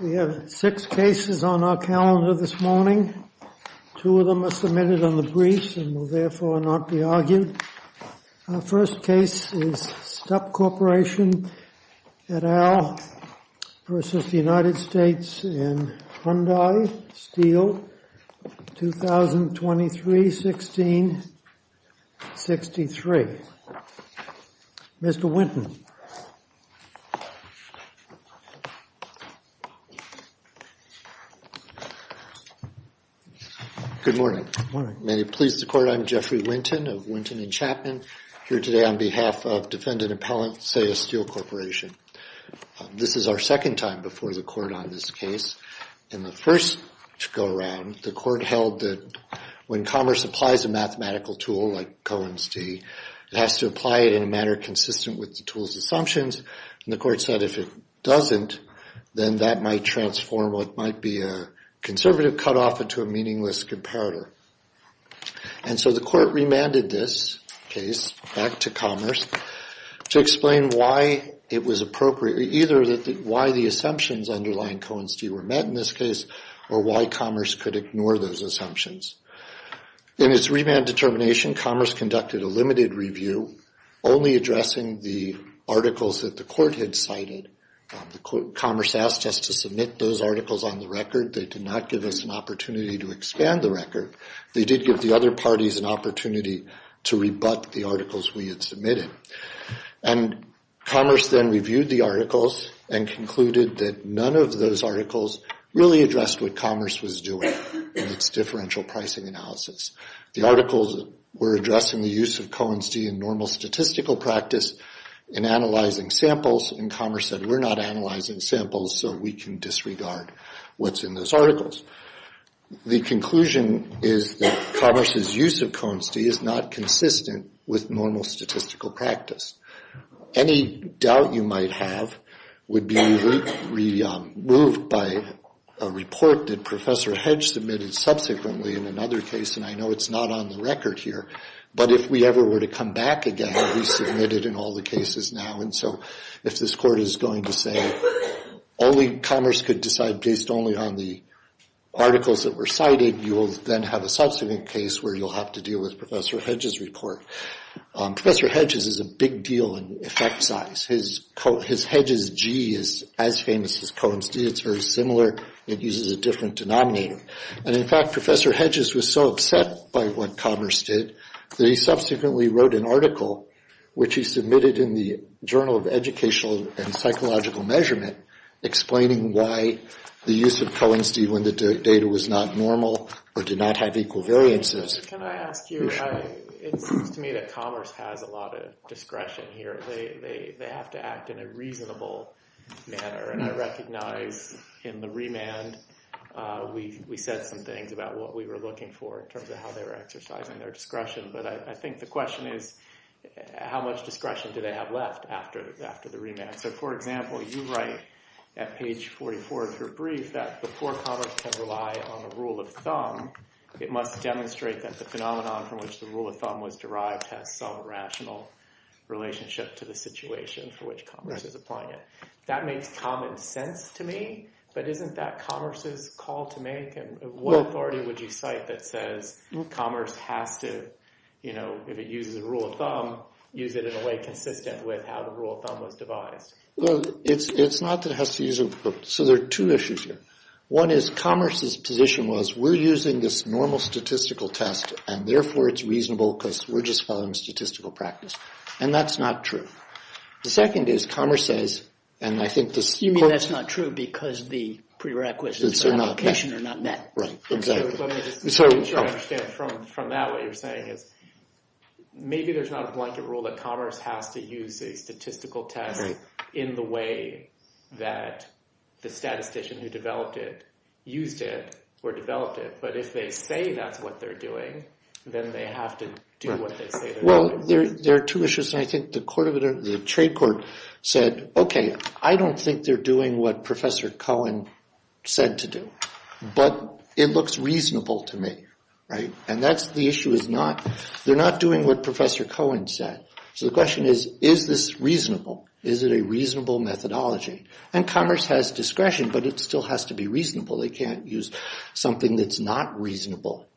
We have six cases on our calendar this morning. Two of them are submitted on the briefs and will therefore not be argued. Our first case is Stupp Corporation et al. v. United States in Hyundai, Steele, 2023-16-63. Mr. Winton. Good morning. May it please the Court, I'm Jeffrey Winton of Winton and Chapman. Here today on behalf of defendant appellant Sayers Steele Corporation. This is our second time before the Court on this case. In the first go-around, the Court held that when Commerce applies a mathematical tool like Cohen's d, it has to apply it in a manner consistent with the tool's assumptions. And the Court said if it doesn't, then that might transform what might be a conservative cutoff into a meaningless comparator. And so the Court remanded this case back to Commerce to explain why it was appropriate, either why the assumptions underlying Cohen's d were met in this case, or why Commerce could ignore those assumptions. In its remand determination, Commerce conducted a limited review, only addressing the articles that the Court had cited. Commerce asked us to submit those articles on the record. They did not give us an opportunity to expand the record. They did give the other parties an opportunity to rebut the articles we had submitted. And Commerce then reviewed the articles and concluded that none of those articles really addressed what Commerce was doing in its differential pricing analysis. The articles were addressing the use of Cohen's d in normal statistical practice in analyzing samples, and Commerce said we're not analyzing samples, so we can disregard what's in those articles. The conclusion is that Commerce's use of Cohen's d is not consistent with normal statistical practice. Any doubt you might have would be removed by a report that Professor Hedge submitted subsequently in another case, and I know it's not on the record here. But if we ever were to come back again, he submitted in all the cases now. And so if this Court is going to say only Commerce could decide based only on the articles that were cited, you will then have a subsequent case where you'll have to deal with Professor Hedge's report. Professor Hedge's is a big deal in effect size. His Hedge's g is as famous as Cohen's d. It's very similar. It uses a different denominator. And, in fact, Professor Hedge's was so upset by what Commerce did that he subsequently wrote an article, which he submitted in the Journal of Educational and Psychological Measurement, explaining why the use of Cohen's d when the data was not normal or did not have equal variances. Can I ask you, it seems to me that Commerce has a lot of discretion here. They have to act in a reasonable manner. And I recognize in the remand we said some things about what we were looking for in terms of how they were exercising their discretion. But I think the question is, how much discretion do they have left after the remand? So, for example, you write at page 44 of your brief that before Commerce can rely on the rule of thumb, it must demonstrate that the phenomenon from which the rule of thumb was derived has some rational relationship to the situation for which Commerce is applying it. That makes common sense to me. But isn't that Commerce's call to make? What authority would you cite that says Commerce has to, you know, if it uses a rule of thumb, use it in a way consistent with how the rule of thumb was devised? Well, it's not that it has to use a rule of thumb. So there are two issues here. One is Commerce's position was, we're using this normal statistical test, and therefore it's reasonable because we're just following statistical practice. And that's not true. The second is Commerce says, and I think this— You mean that's not true because the prerequisites for application are not met. Right, exactly. Let me just make sure I understand. From that, what you're saying is maybe there's not a blanket rule that Commerce has to use a statistical test in the way that the statistician who developed it used it or developed it. But if they say that's what they're doing, then they have to do what they say they're doing. Well, there are two issues. And I think the trade court said, okay, I don't think they're doing what Professor Cohen said to do, but it looks reasonable to me, right? And that's the issue is not—they're not doing what Professor Cohen said. So the question is, is this reasonable? Is it a reasonable methodology? And Commerce has discretion, but it still has to be reasonable. They can't use something that's not reasonable.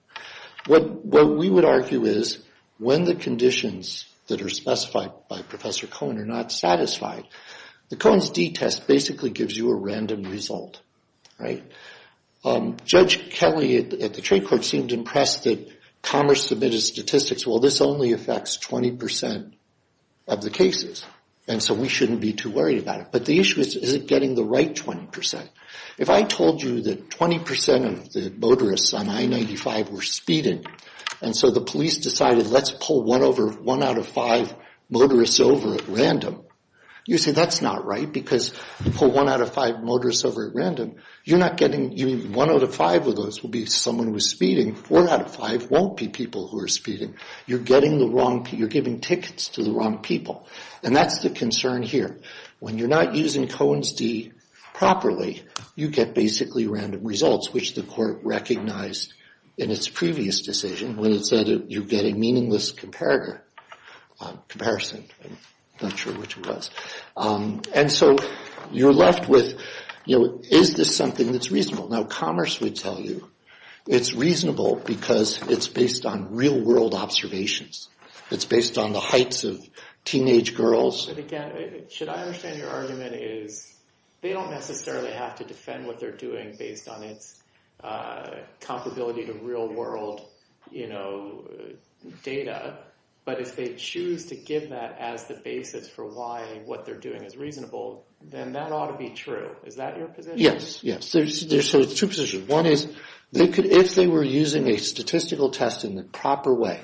What we would argue is when the conditions that are specified by Professor Cohen are not satisfied, the Cohen's d-test basically gives you a random result, right? Judge Kelly at the trade court seemed impressed that Commerce submitted statistics, well, this only affects 20% of the cases, and so we shouldn't be too worried about it. But the issue is, is it getting the right 20%? If I told you that 20% of the motorists on I-95 were speeding, and so the police decided let's pull one out of five motorists over at random, you'd say that's not right because you pull one out of five motorists over at random, you're not getting—one out of five of those will be someone who's speeding. Four out of five won't be people who are speeding. You're getting the wrong—you're giving tickets to the wrong people. And that's the concern here. When you're not using Cohen's d properly, you get basically random results, which the court recognized in its previous decision when it said you get a meaningless comparison. I'm not sure which it was. And so you're left with, you know, is this something that's reasonable? Now Commerce would tell you it's reasonable because it's based on real-world observations. It's based on the heights of teenage girls. But again, should I understand your argument is they don't necessarily have to defend what they're doing based on its comparability to real-world, you know, data, but if they choose to give that as the basis for why what they're doing is reasonable, then that ought to be true. Is that your position? Yes, yes. So there's two positions. One is if they were using a statistical test in the proper way,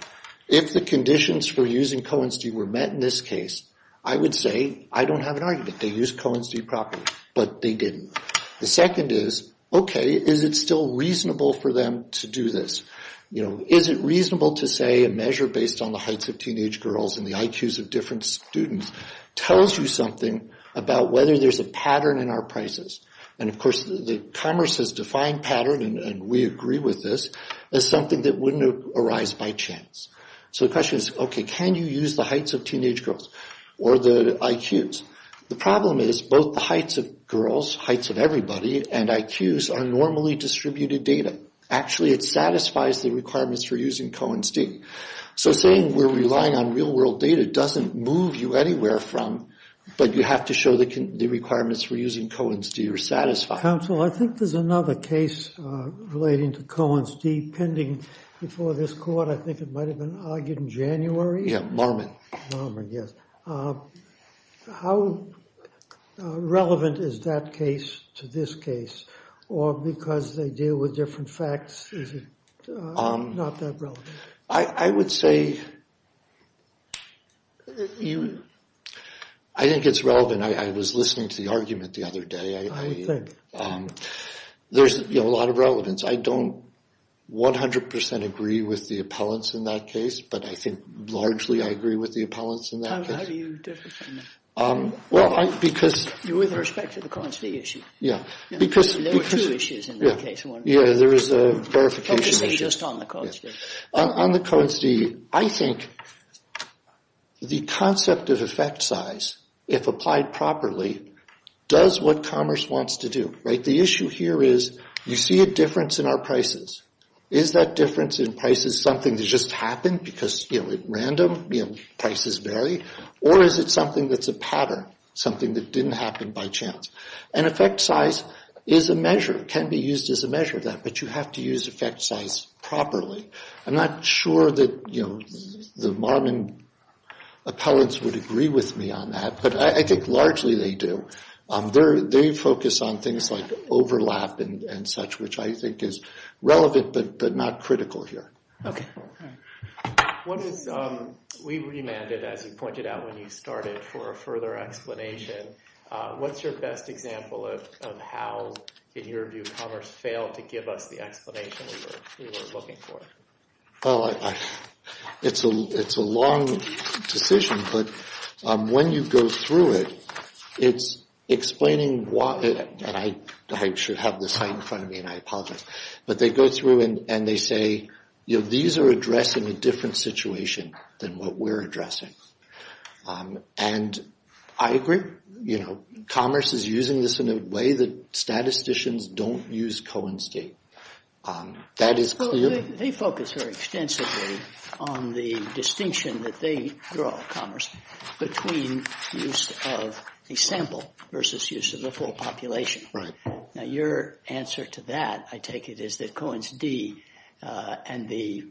if the conditions for using Cohen's d were met in this case, I would say I don't have an argument. They used Cohen's d properly, but they didn't. The second is, okay, is it still reasonable for them to do this? You know, is it reasonable to say a measure based on the heights of teenage girls and the IQs of different students tells you something about whether there's a pattern in our prices? And of course, Commerce has defined pattern, and we agree with this, as something that wouldn't arise by chance. So the question is, okay, can you use the heights of teenage girls or the IQs? The problem is both the heights of girls, heights of everybody, and IQs are normally distributed data. Actually, it satisfies the requirements for using Cohen's d. So saying we're relying on real-world data doesn't move you anywhere from, but you have to show the requirements for using Cohen's d are satisfied. Counsel, I think there's another case relating to Cohen's d pending before this court. I think it might have been argued in January. Marmon, yes. How relevant is that case to this case? Or because they deal with different facts, is it not that relevant? I would say I think it's relevant. I was listening to the argument the other day. I would think. There's a lot of relevance. I don't 100% agree with the appellants in that case, but I think largely I agree with the appellants in that case. How do you differ from them? Well, because— With respect to the Cohen's d issue. Yeah, because— There were two issues in that case. Yeah, there was a verification issue. Just on the Cohen's d. On the Cohen's d, I think the concept of effect size, if applied properly, does what commerce wants to do, right? The issue here is you see a difference in our prices. Is that difference in prices something that just happened because, you know, at random, you know, prices vary? Or is it something that's a pattern, something that didn't happen by chance? And effect size is a measure, can be used as a measure of that, but you have to use effect size properly. I'm not sure that, you know, the Marmon appellants would agree with me on that, but I think largely they do. They focus on things like overlap and such, which I think is relevant but not critical here. Okay. We remanded, as you pointed out when you started, for a further explanation. What's your best example of how, in your view, commerce failed to give us the explanation we were looking for? It's a long decision, but when you go through it, it's explaining why, and I should have this right in front of me and I apologize, but they go through and they say, you know, these are addressing a different situation than what we're addressing. And I agree. Commerce is using this in a way that statisticians don't use Cohen's d. That is clear. They focus very extensively on the distinction that they draw, commerce, between use of a sample versus use of the full population. Now your answer to that, I take it, is that Cohen's d and the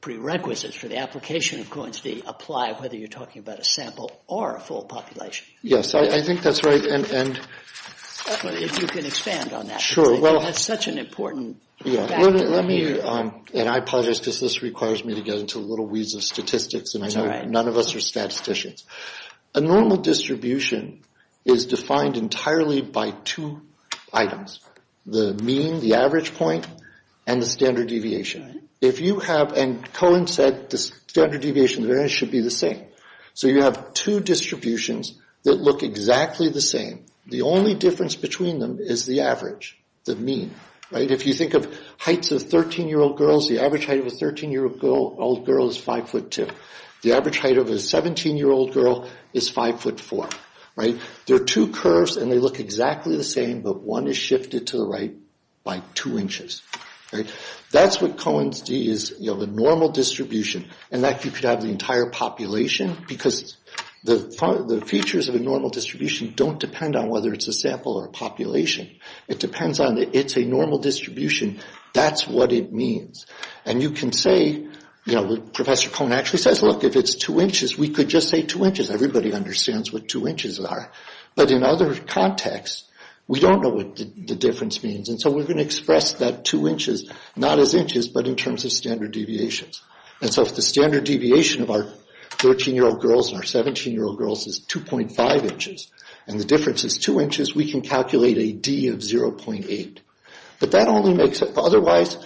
prerequisites for the application of Cohen's d apply whether you're talking about a sample or a full population. Yes, I think that's right. If you can expand on that. Sure. That's such an important factor. Let me, and I apologize because this requires me to get into little weeds of statistics. That's all right. None of us are statisticians. A normal distribution is defined entirely by two items, the mean, the average point, and the standard deviation. And Cohen said the standard deviation should be the same. So you have two distributions that look exactly the same. The only difference between them is the average, the mean. If you think of heights of 13-year-old girls, the average height of a 13-year-old girl is 5'2". The average height of a 17-year-old girl is 5'4". There are two curves and they look exactly the same, but one is shifted to the right by two inches. That's what Cohen's D is. You have a normal distribution and that you could have the entire population because the features of a normal distribution don't depend on whether it's a sample or a population. It depends on it's a normal distribution. That's what it means. And you can say, you know, Professor Cohen actually says, look, if it's two inches, we could just say two inches. Everybody understands what two inches are. But in other contexts, we don't know what the difference means. And so we're going to express that two inches not as inches, but in terms of standard deviations. And so if the standard deviation of our 13-year-old girls and our 17-year-old girls is 2.5 inches and the difference is two inches, we can calculate a D of 0.8. But that only makes it, otherwise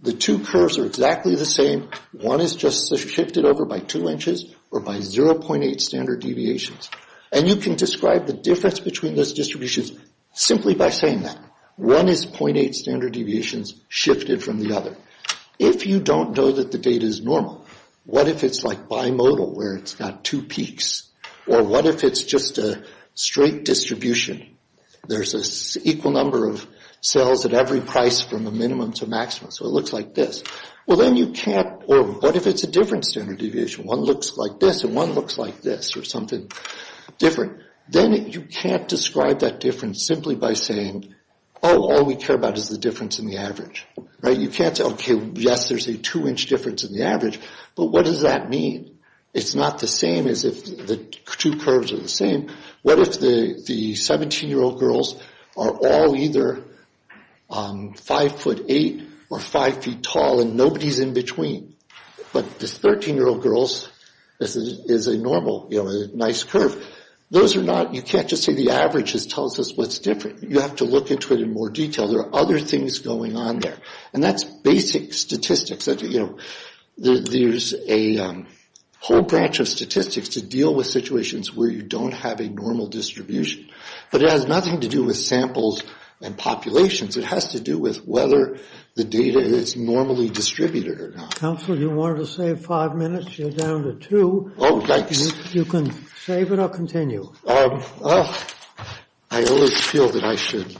the two curves are exactly the same. One is just shifted over by two inches or by 0.8 standard deviations. And you can describe the difference between those distributions simply by saying that. One is 0.8 standard deviations shifted from the other. If you don't know that the data is normal, what if it's like bimodal where it's got two peaks? Or what if it's just a straight distribution? There's an equal number of cells at every price from a minimum to maximum. So it looks like this. Well, then you can't, or what if it's a different standard deviation? One looks like this and one looks like this or something different. Then you can't describe that difference simply by saying, oh, all we care about is the difference in the average. You can't say, okay, yes, there's a two-inch difference in the average. But what does that mean? It's not the same as if the two curves are the same. What if the 17-year-old girls are all either 5'8 or 5' tall and nobody's in between? But the 13-year-old girls is a normal, nice curve. Those are not, you can't just say the average tells us what's different. You have to look into it in more detail. There are other things going on there. And that's basic statistics. There's a whole branch of statistics to deal with situations where you don't have a normal distribution. But it has nothing to do with samples and populations. It has to do with whether the data is normally distributed or not. Counsel, you wanted to save five minutes. You're down to two. Oh, thanks. You can save it or continue. I always feel that I should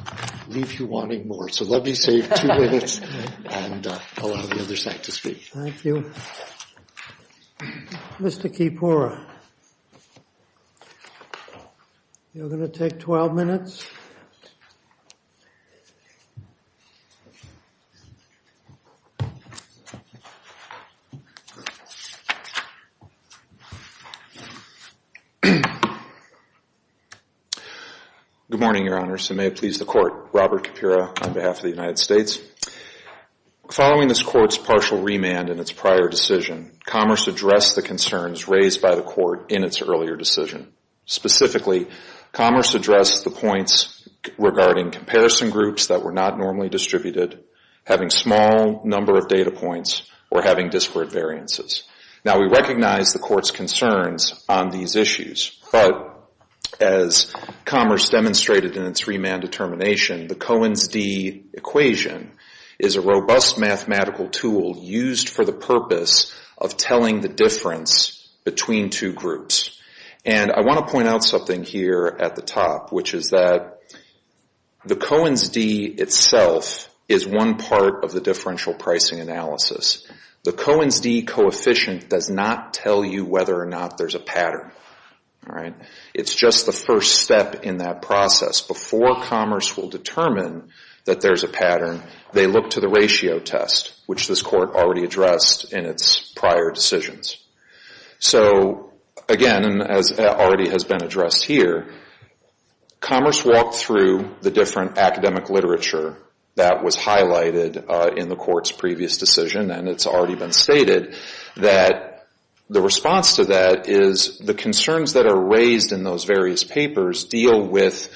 leave you wanting more. So let me save two minutes and allow the other side to speak. Thank you. Mr. Kipora, you're going to take 12 minutes. Good morning, Your Honor. So may it please the Court. Robert Kipora on behalf of the United States. Following this Court's partial remand in its prior decision, Commerce addressed the concerns raised by the Court in its earlier decision. Specifically, Commerce addressed the points regarding comparison groups that were not normally distributed, having small number of data points, or having disparate variances. Now, we recognize the Court's concerns on these issues. But as Commerce demonstrated in its remand determination, the Cohen's d equation is a robust mathematical tool used for the purpose of telling the difference between two groups. And I want to point out something here at the top, which is that the Cohen's d itself is one part of the differential pricing analysis. The Cohen's d coefficient does not tell you whether or not there's a pattern. It's just the first step in that process. Before Commerce will determine that there's a pattern, they look to the ratio test, which this Court already addressed in its prior decisions. So, again, as already has been addressed here, Commerce walked through the different academic literature that was highlighted in the Court's previous decision, and it's already been stated, that the response to that is the concerns that are raised in those various papers deal with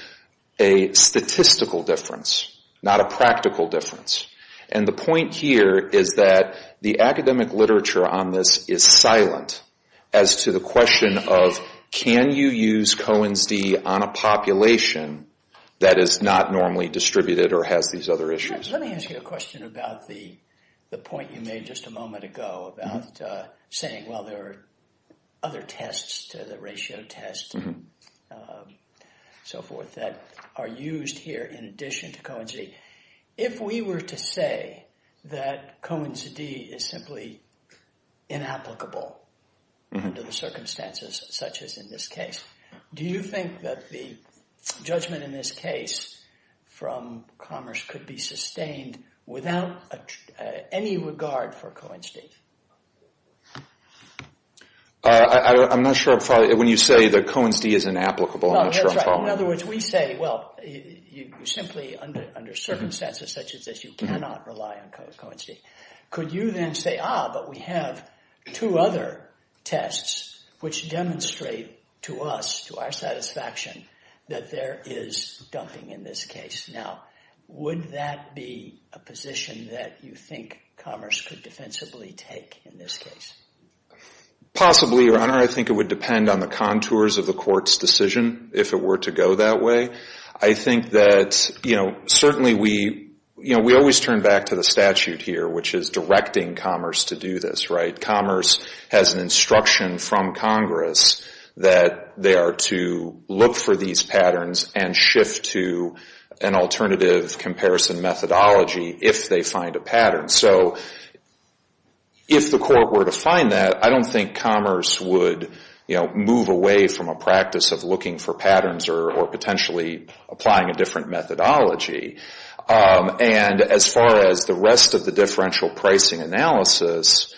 a statistical difference, not a practical difference. And the point here is that the academic literature on this is silent as to the question of can you use Cohen's d on a population that is not normally distributed or has these other issues. Let me ask you a question about the point you made just a moment ago about saying, well, there are other tests to the ratio test and so forth that are used here in addition to Cohen's d. If we were to say that Cohen's d is simply inapplicable under the circumstances such as in this case, do you think that the judgment in this case from Commerce could be sustained without any regard for Cohen's d? I'm not sure when you say that Cohen's d is inapplicable. In other words, we say, well, simply under circumstances such as this, you cannot rely on Cohen's d. Could you then say, ah, but we have two other tests which demonstrate to us, to our satisfaction, that there is dumping in this case. Now, would that be a position that you think Commerce could defensively take in this case? Possibly, Your Honor. I think it would depend on the contours of the court's decision if it were to go that way. I think that certainly we always turn back to the statute here, which is directing Commerce to do this. Commerce has an instruction from Congress that they are to look for these patterns and shift to an alternative comparison methodology if they find a pattern. So if the court were to find that, I don't think Commerce would move away from a practice of looking for patterns or potentially applying a different methodology. And as far as the rest of the differential pricing analysis,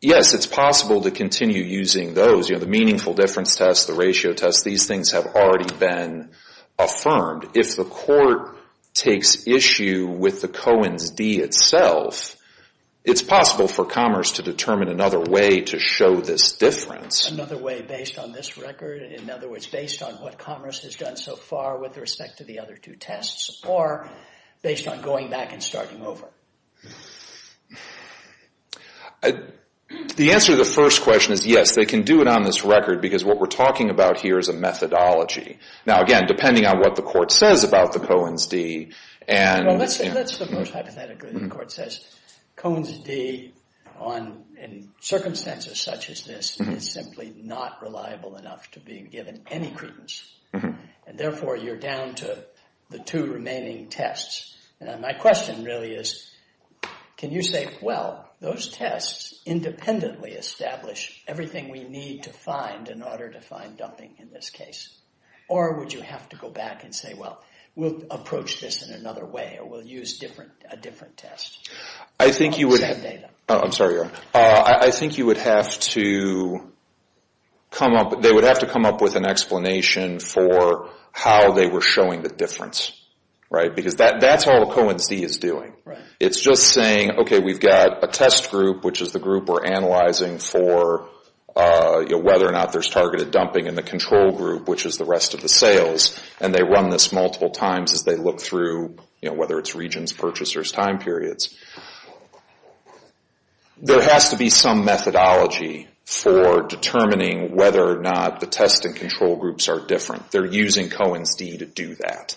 yes, it's possible to continue using those. You know, the meaningful difference test, the ratio test, these things have already been affirmed. If the court takes issue with the Cohen's d itself, it's possible for Commerce to determine another way to show this difference. Another way based on this record? In other words, based on what Commerce has done so far with respect to the other two tests? Or based on going back and starting over? The answer to the first question is yes, they can do it on this record because what we're talking about here is a methodology. Now, again, depending on what the court says about the Cohen's d and... Well, let's suppose hypothetically the court says Cohen's d in circumstances such as this is simply not reliable enough to be given any credence. And therefore, you're down to the two remaining tests. And my question really is, can you say, well, those tests independently establish everything we need to find in order to find dumping in this case? Or would you have to go back and say, well, we'll approach this in another way or we'll use a different test? I think you would have to come up with an explanation for how they were showing the difference. Because that's all Cohen's d is doing. It's just saying, okay, we've got a test group, which is the group we're analyzing for whether or not there's targeted dumping in the control group, which is the rest of the sales. And they run this multiple times as they look through, whether it's regions, purchasers, time periods. There has to be some methodology for determining whether or not the test and control groups are different. They're using Cohen's d to do that.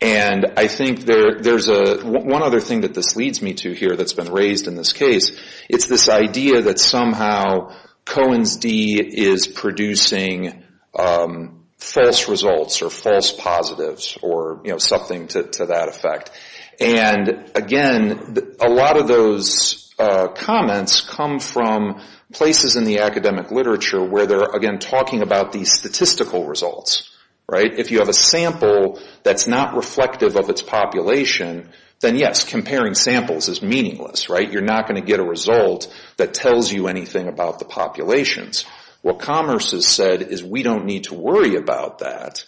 And I think there's one other thing that this leads me to here that's been raised in this case. It's this idea that somehow Cohen's d is producing false results or false positives or something to that effect. And again, a lot of those comments come from places in the academic literature where they're, again, talking about these statistical results. If you have a sample that's not reflective of its population, then, yes, comparing samples is meaningless. You're not going to get a result that tells you anything about the populations. What Commerce has said is we don't need to worry about that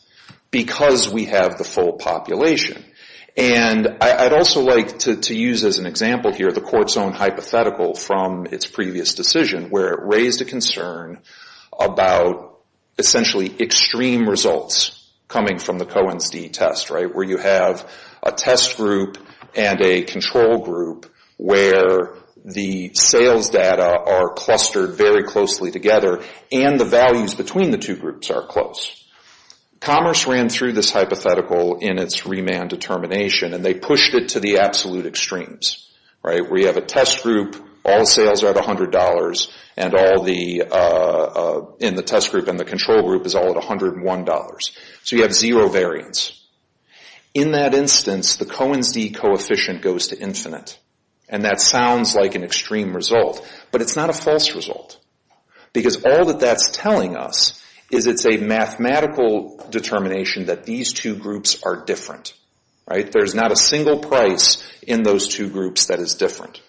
because we have the full population. And I'd also like to use as an example here the court's own hypothetical from its previous decision where it raised a concern about essentially extreme results coming from the Cohen's d test, where you have a test group and a control group where the sales data are clustered very closely together and the values between the two groups are close. Commerce ran through this hypothetical in its remand determination, and they pushed it to the absolute extremes. We have a test group, all sales are at $100, and the test group and the control group is all at $101. So you have zero variance. In that instance, the Cohen's d coefficient goes to infinite, and that sounds like an extreme result, but it's not a false result because all that that's telling us is it's a mathematical determination that these two groups are different. There's not a single price in those two groups that is different.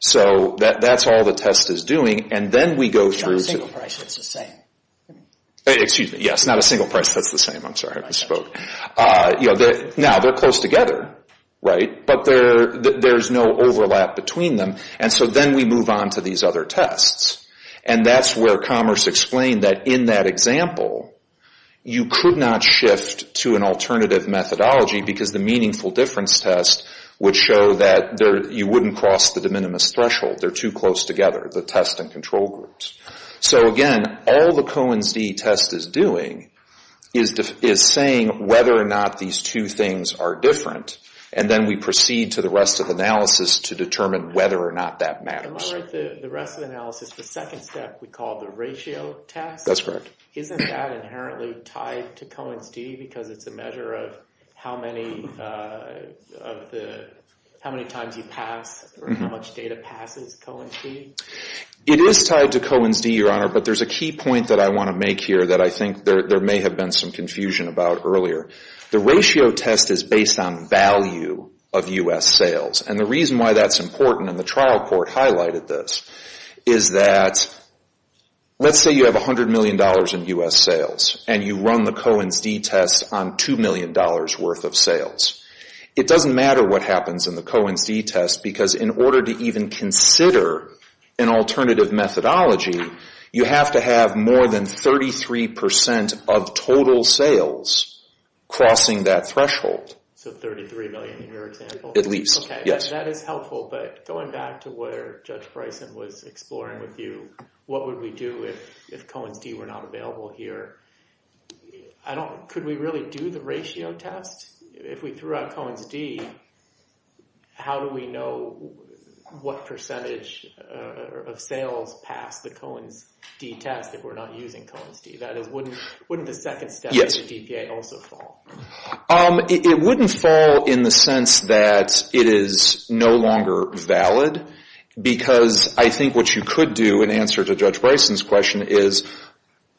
So that's all the test is doing, and then we go through... Not a single price that's the same. Excuse me, yes, not a single price that's the same. I'm sorry, I misspoke. Now, they're close together, but there's no overlap between them, and so then we move on to these other tests. And that's where Commerce explained that in that example, you could not shift to an alternative methodology because the meaningful difference test would show that you wouldn't cross the de minimis threshold. They're too close together, the test and control groups. So again, all the Cohen's d test is doing is saying whether or not these two things are different, and then we proceed to the rest of the analysis to determine whether or not that matters. Am I right that the rest of the analysis, the second step we call the ratio test? That's correct. Isn't that inherently tied to Cohen's d because it's a measure of how many times you pass or how much data passes Cohen's d? It is tied to Cohen's d, Your Honor, but there's a key point that I want to make here that I think there may have been some confusion about earlier. The ratio test is based on value of U.S. sales, and the reason why that's important, and the trial court highlighted this, is that let's say you have $100 million in U.S. sales, and you run the Cohen's d test on $2 million worth of sales. It doesn't matter what happens in the Cohen's d test because in order to even consider an alternative methodology, you have to have more than 33% of total sales crossing that threshold. So $33 million in your example? At least, yes. Okay, that is helpful, but going back to where Judge Bryson was exploring with you, what would we do if Cohen's d were not available here? Could we really do the ratio test? If we threw out Cohen's d, how do we know what percentage of sales pass the Cohen's d test if we're not using Cohen's d? That is, wouldn't the second step in the DPA also fall? It wouldn't fall in the sense that it is no longer valid, because I think what you could do in answer to Judge Bryson's question is,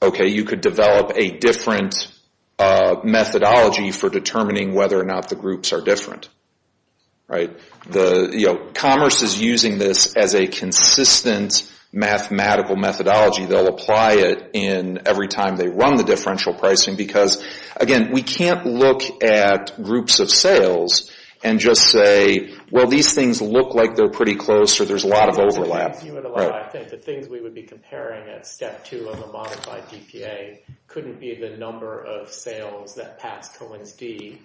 okay, you could develop a different methodology for determining whether or not the groups are different. Commerce is using this as a consistent mathematical methodology. They'll apply it every time they run the differential pricing because, again, we can't look at groups of sales and just say, well, these things look like they're pretty close or there's a lot of overlap. The things we would be comparing at step two of a modified DPA couldn't be the number of sales that pass Cohen's d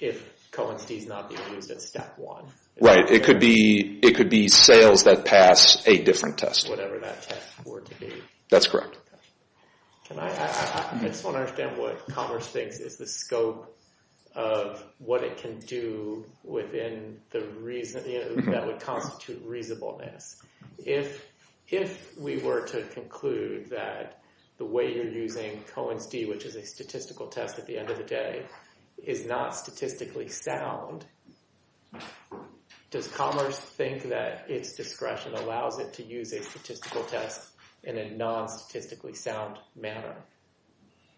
if Cohen's d is not being used at step one. Right. It could be sales that pass a different test. Whatever that test were to be. That's correct. I just want to understand what Commerce thinks is the scope of what it can do within the reason that would constitute reasonableness. If we were to conclude that the way you're using Cohen's d, which is a statistical test at the end of the day, is not statistically sound, does Commerce think that its discretion allows it to use a statistical test in a non-statistically sound manner?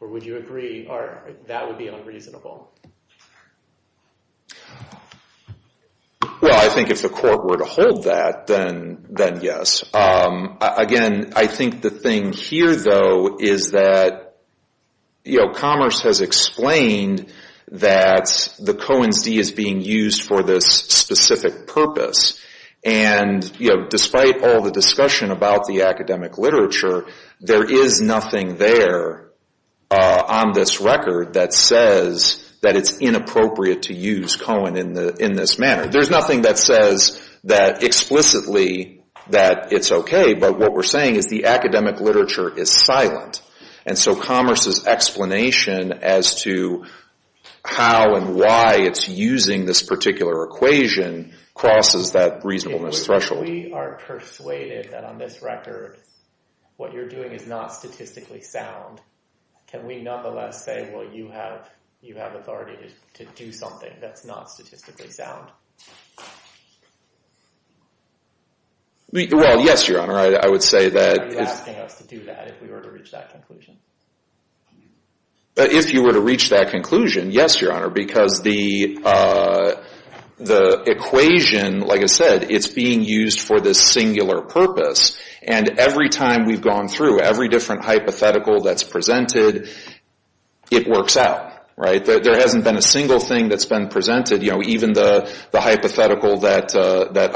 Or would you agree that would be unreasonable? Well, I think if the court were to hold that, then yes. Again, I think the thing here, though, is that Commerce has explained that the Cohen's d is being used for this specific purpose. And, you know, despite all the discussion about the academic literature, there is nothing there on this record that says that it's inappropriate to use Cohen in this manner. There's nothing that says that explicitly that it's okay. But what we're saying is the academic literature is silent. And so Commerce's explanation as to how and why it's using this particular equation crosses that reasonableness threshold. If we are persuaded that on this record what you're doing is not statistically sound, can we nonetheless say, well, you have authority to do something that's not statistically sound? Well, yes, Your Honor. I would say that... Why are you asking us to do that if we were to reach that conclusion? If you were to reach that conclusion, yes, Your Honor. Because the equation, like I said, it's being used for this singular purpose. And every time we've gone through every different hypothetical that's presented, it works out, right? There hasn't been a single thing that's been presented. Even the hypothetical that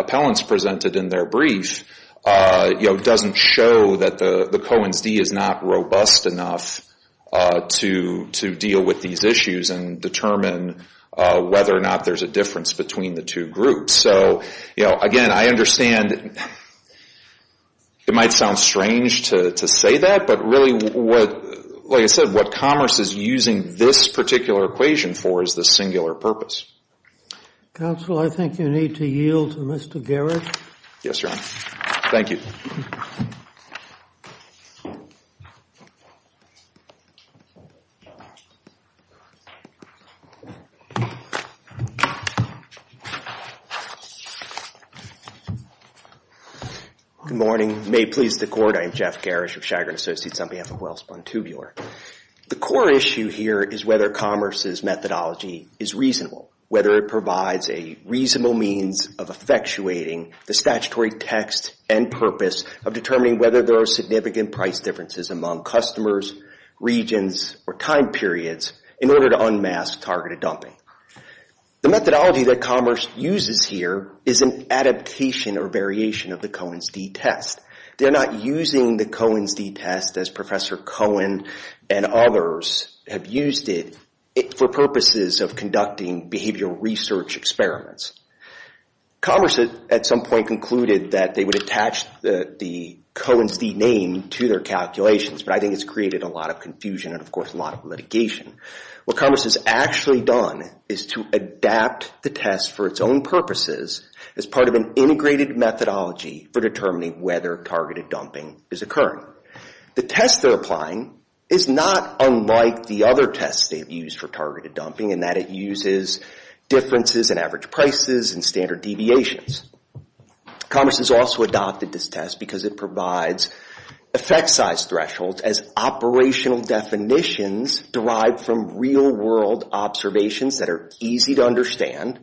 appellants presented in their brief doesn't show that the Cohen's d is not robust enough to deal with these issues and determine whether or not there's a difference between the two groups. So, you know, again, I understand it might sound strange to say that, but really what, like I said, what Commerce is using this particular equation for is the singular purpose. Counsel, I think you need to yield to Mr. Garrett. Yes, Your Honor. Thank you. Good morning. May it please the Court, I am Jeff Garish of Chagrin Associates on behalf of Wells Pontubular. The core issue here is whether Commerce's methodology is reasonable, whether it provides a reasonable means of effectuating the statutory text and purpose of determining whether there are significant price differences among customers, regions, or time periods in order to unmask targeted dumping. The methodology that Commerce uses here is an adaptation or variation of the Cohen's d test. They're not using the Cohen's d test as Professor Cohen and others have used it for purposes of conducting behavioral research experiments. Commerce at some point concluded that they would attach the Cohen's d name to their calculations, but I think it's created a lot of confusion and, of course, a lot of litigation. What Commerce has actually done is to adapt the test for its own purposes as part of an integrated methodology for determining whether targeted dumping is occurring. The test they're applying is not unlike the other tests they've used for targeted dumping in that it uses differences in average prices and standard deviations. Commerce has also adopted this test because it provides effect size thresholds as operational definitions derived from real world observations that are easy to understand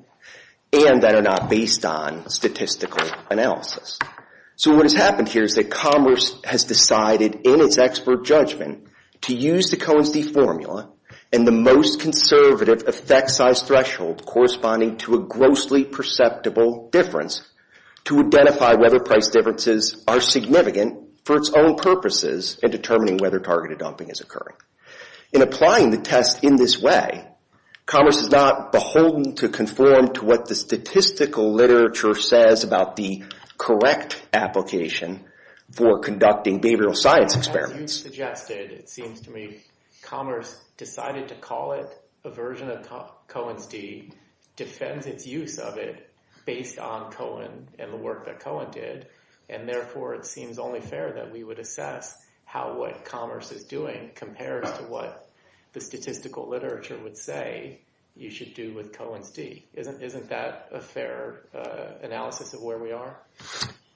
and that are not based on statistical analysis. So what has happened here is that Commerce has decided in its expert judgment to use the Cohen's d formula and the most conservative effect size threshold corresponding to a grossly perceptible difference to identify whether price differences are significant for its own purposes in determining whether targeted dumping is occurring. In applying the test in this way, Commerce is not beholden to conform to what the statistical literature says about the correct application for conducting behavioral science experiments. As you suggested, it seems to me Commerce decided to call it a version of Cohen's d, defends its use of it based on Cohen and the work that Cohen did, and therefore it seems only fair that we would assess how what Commerce is doing compares to what the statistical literature would say you should do with Cohen's d. Isn't that a fair analysis of where we are?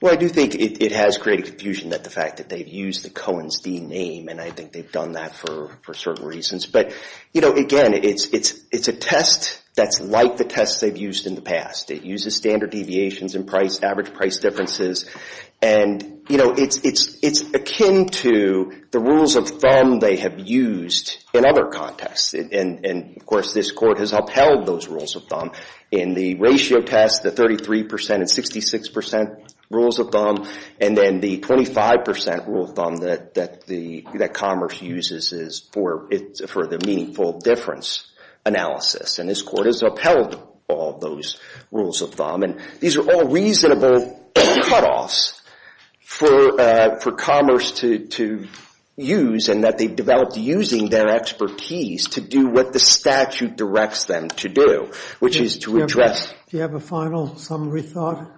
Well, I do think it has created confusion that the fact that they've used the Cohen's d name, and I think they've done that for certain reasons. But, you know, again, it's a test that's like the tests they've used in the past. It uses standard deviations in price, average price differences, and, you know, it's akin to the rules of thumb they have used in other contexts. And, of course, this Court has upheld those rules of thumb in the ratio test, the 33% and 66% rules of thumb, and then the 25% rule of thumb that Commerce uses is for the meaningful difference analysis. And this Court has upheld all those rules of thumb. And these are all reasonable cutoffs for Commerce to use in that they've developed using their expertise to do what the statute directs them to do, which is to address. Do you have a final summary thought?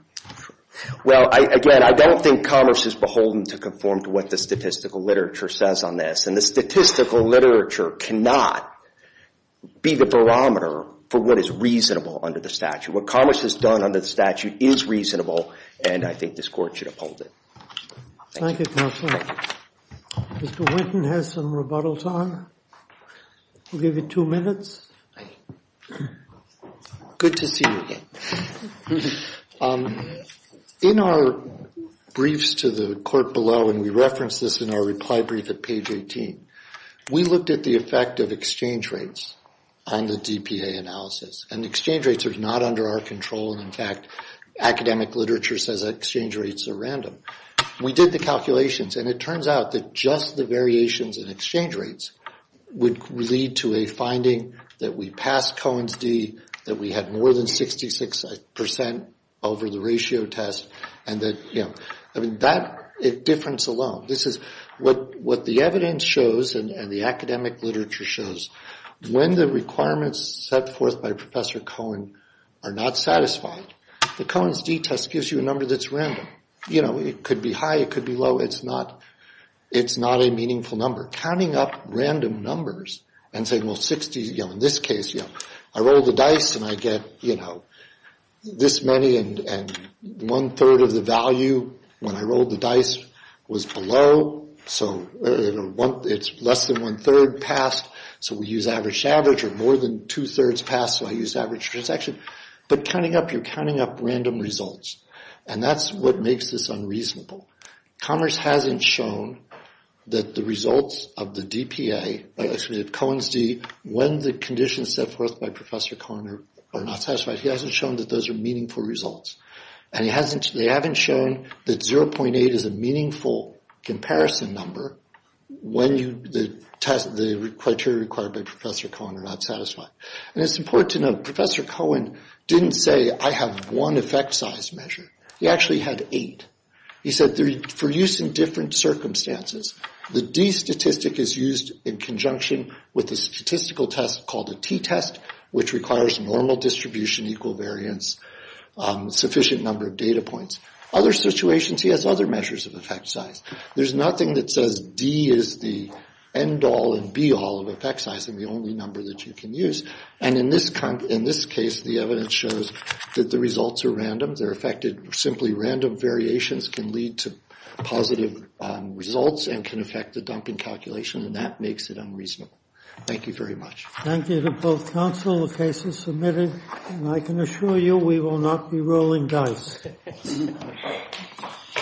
Well, again, I don't think Commerce is beholden to conform to what the statistical literature says on this, and the statistical literature cannot be the barometer for what is reasonable under the statute. What Commerce has done under the statute is reasonable, and I think this Court should uphold it. Thank you, Counselor. Mr. Winton has some rebuttal time. We'll give you two minutes. Good to see you again. In our briefs to the Court below, and we referenced this in our reply brief at page 18, we looked at the effect of exchange rates on the DPA analysis, and exchange rates are not under our control. In fact, academic literature says that exchange rates are random. We did the calculations, and it turns out that just the variations in exchange rates would lead to a finding that we passed Cohen's d, that we had more than 66% over the ratio test, and that difference alone. What the evidence shows and the academic literature shows, when the requirements set forth by Professor Cohen are not satisfied, the Cohen's d test gives you a number that's random. It could be high. It could be low. It's not a meaningful number. You're counting up random numbers and saying, well, 60, you know, in this case, you know, I rolled the dice, and I get, you know, this many, and one-third of the value when I rolled the dice was below, so it's less than one-third passed, so we use average-to-average, or more than two-thirds passed, so I use average-to-transaction. But counting up, you're counting up random results, and that's what makes this unreasonable. Commerce hasn't shown that the results of the DPA, excuse me, of Cohen's d, when the conditions set forth by Professor Cohen are not satisfied, he hasn't shown that those are meaningful results, and they haven't shown that 0.8 is a meaningful comparison number when the criteria required by Professor Cohen are not satisfied. And it's important to note, Professor Cohen didn't say, I have one effect size measure. He actually had eight. He said, for use in different circumstances, the d statistic is used in conjunction with a statistical test called a t-test, which requires normal distribution, equal variance, sufficient number of data points. Other situations, he has other measures of effect size. There's nothing that says d is the end-all and be-all of effect size, and the only number that you can use. And in this case, the evidence shows that the results are random. They're affected simply random variations can lead to positive results and can affect the dumping calculation, and that makes it unreasonable. Thank you very much. Thank you to both counsel. The case is submitted, and I can assure you we will not be rolling dice.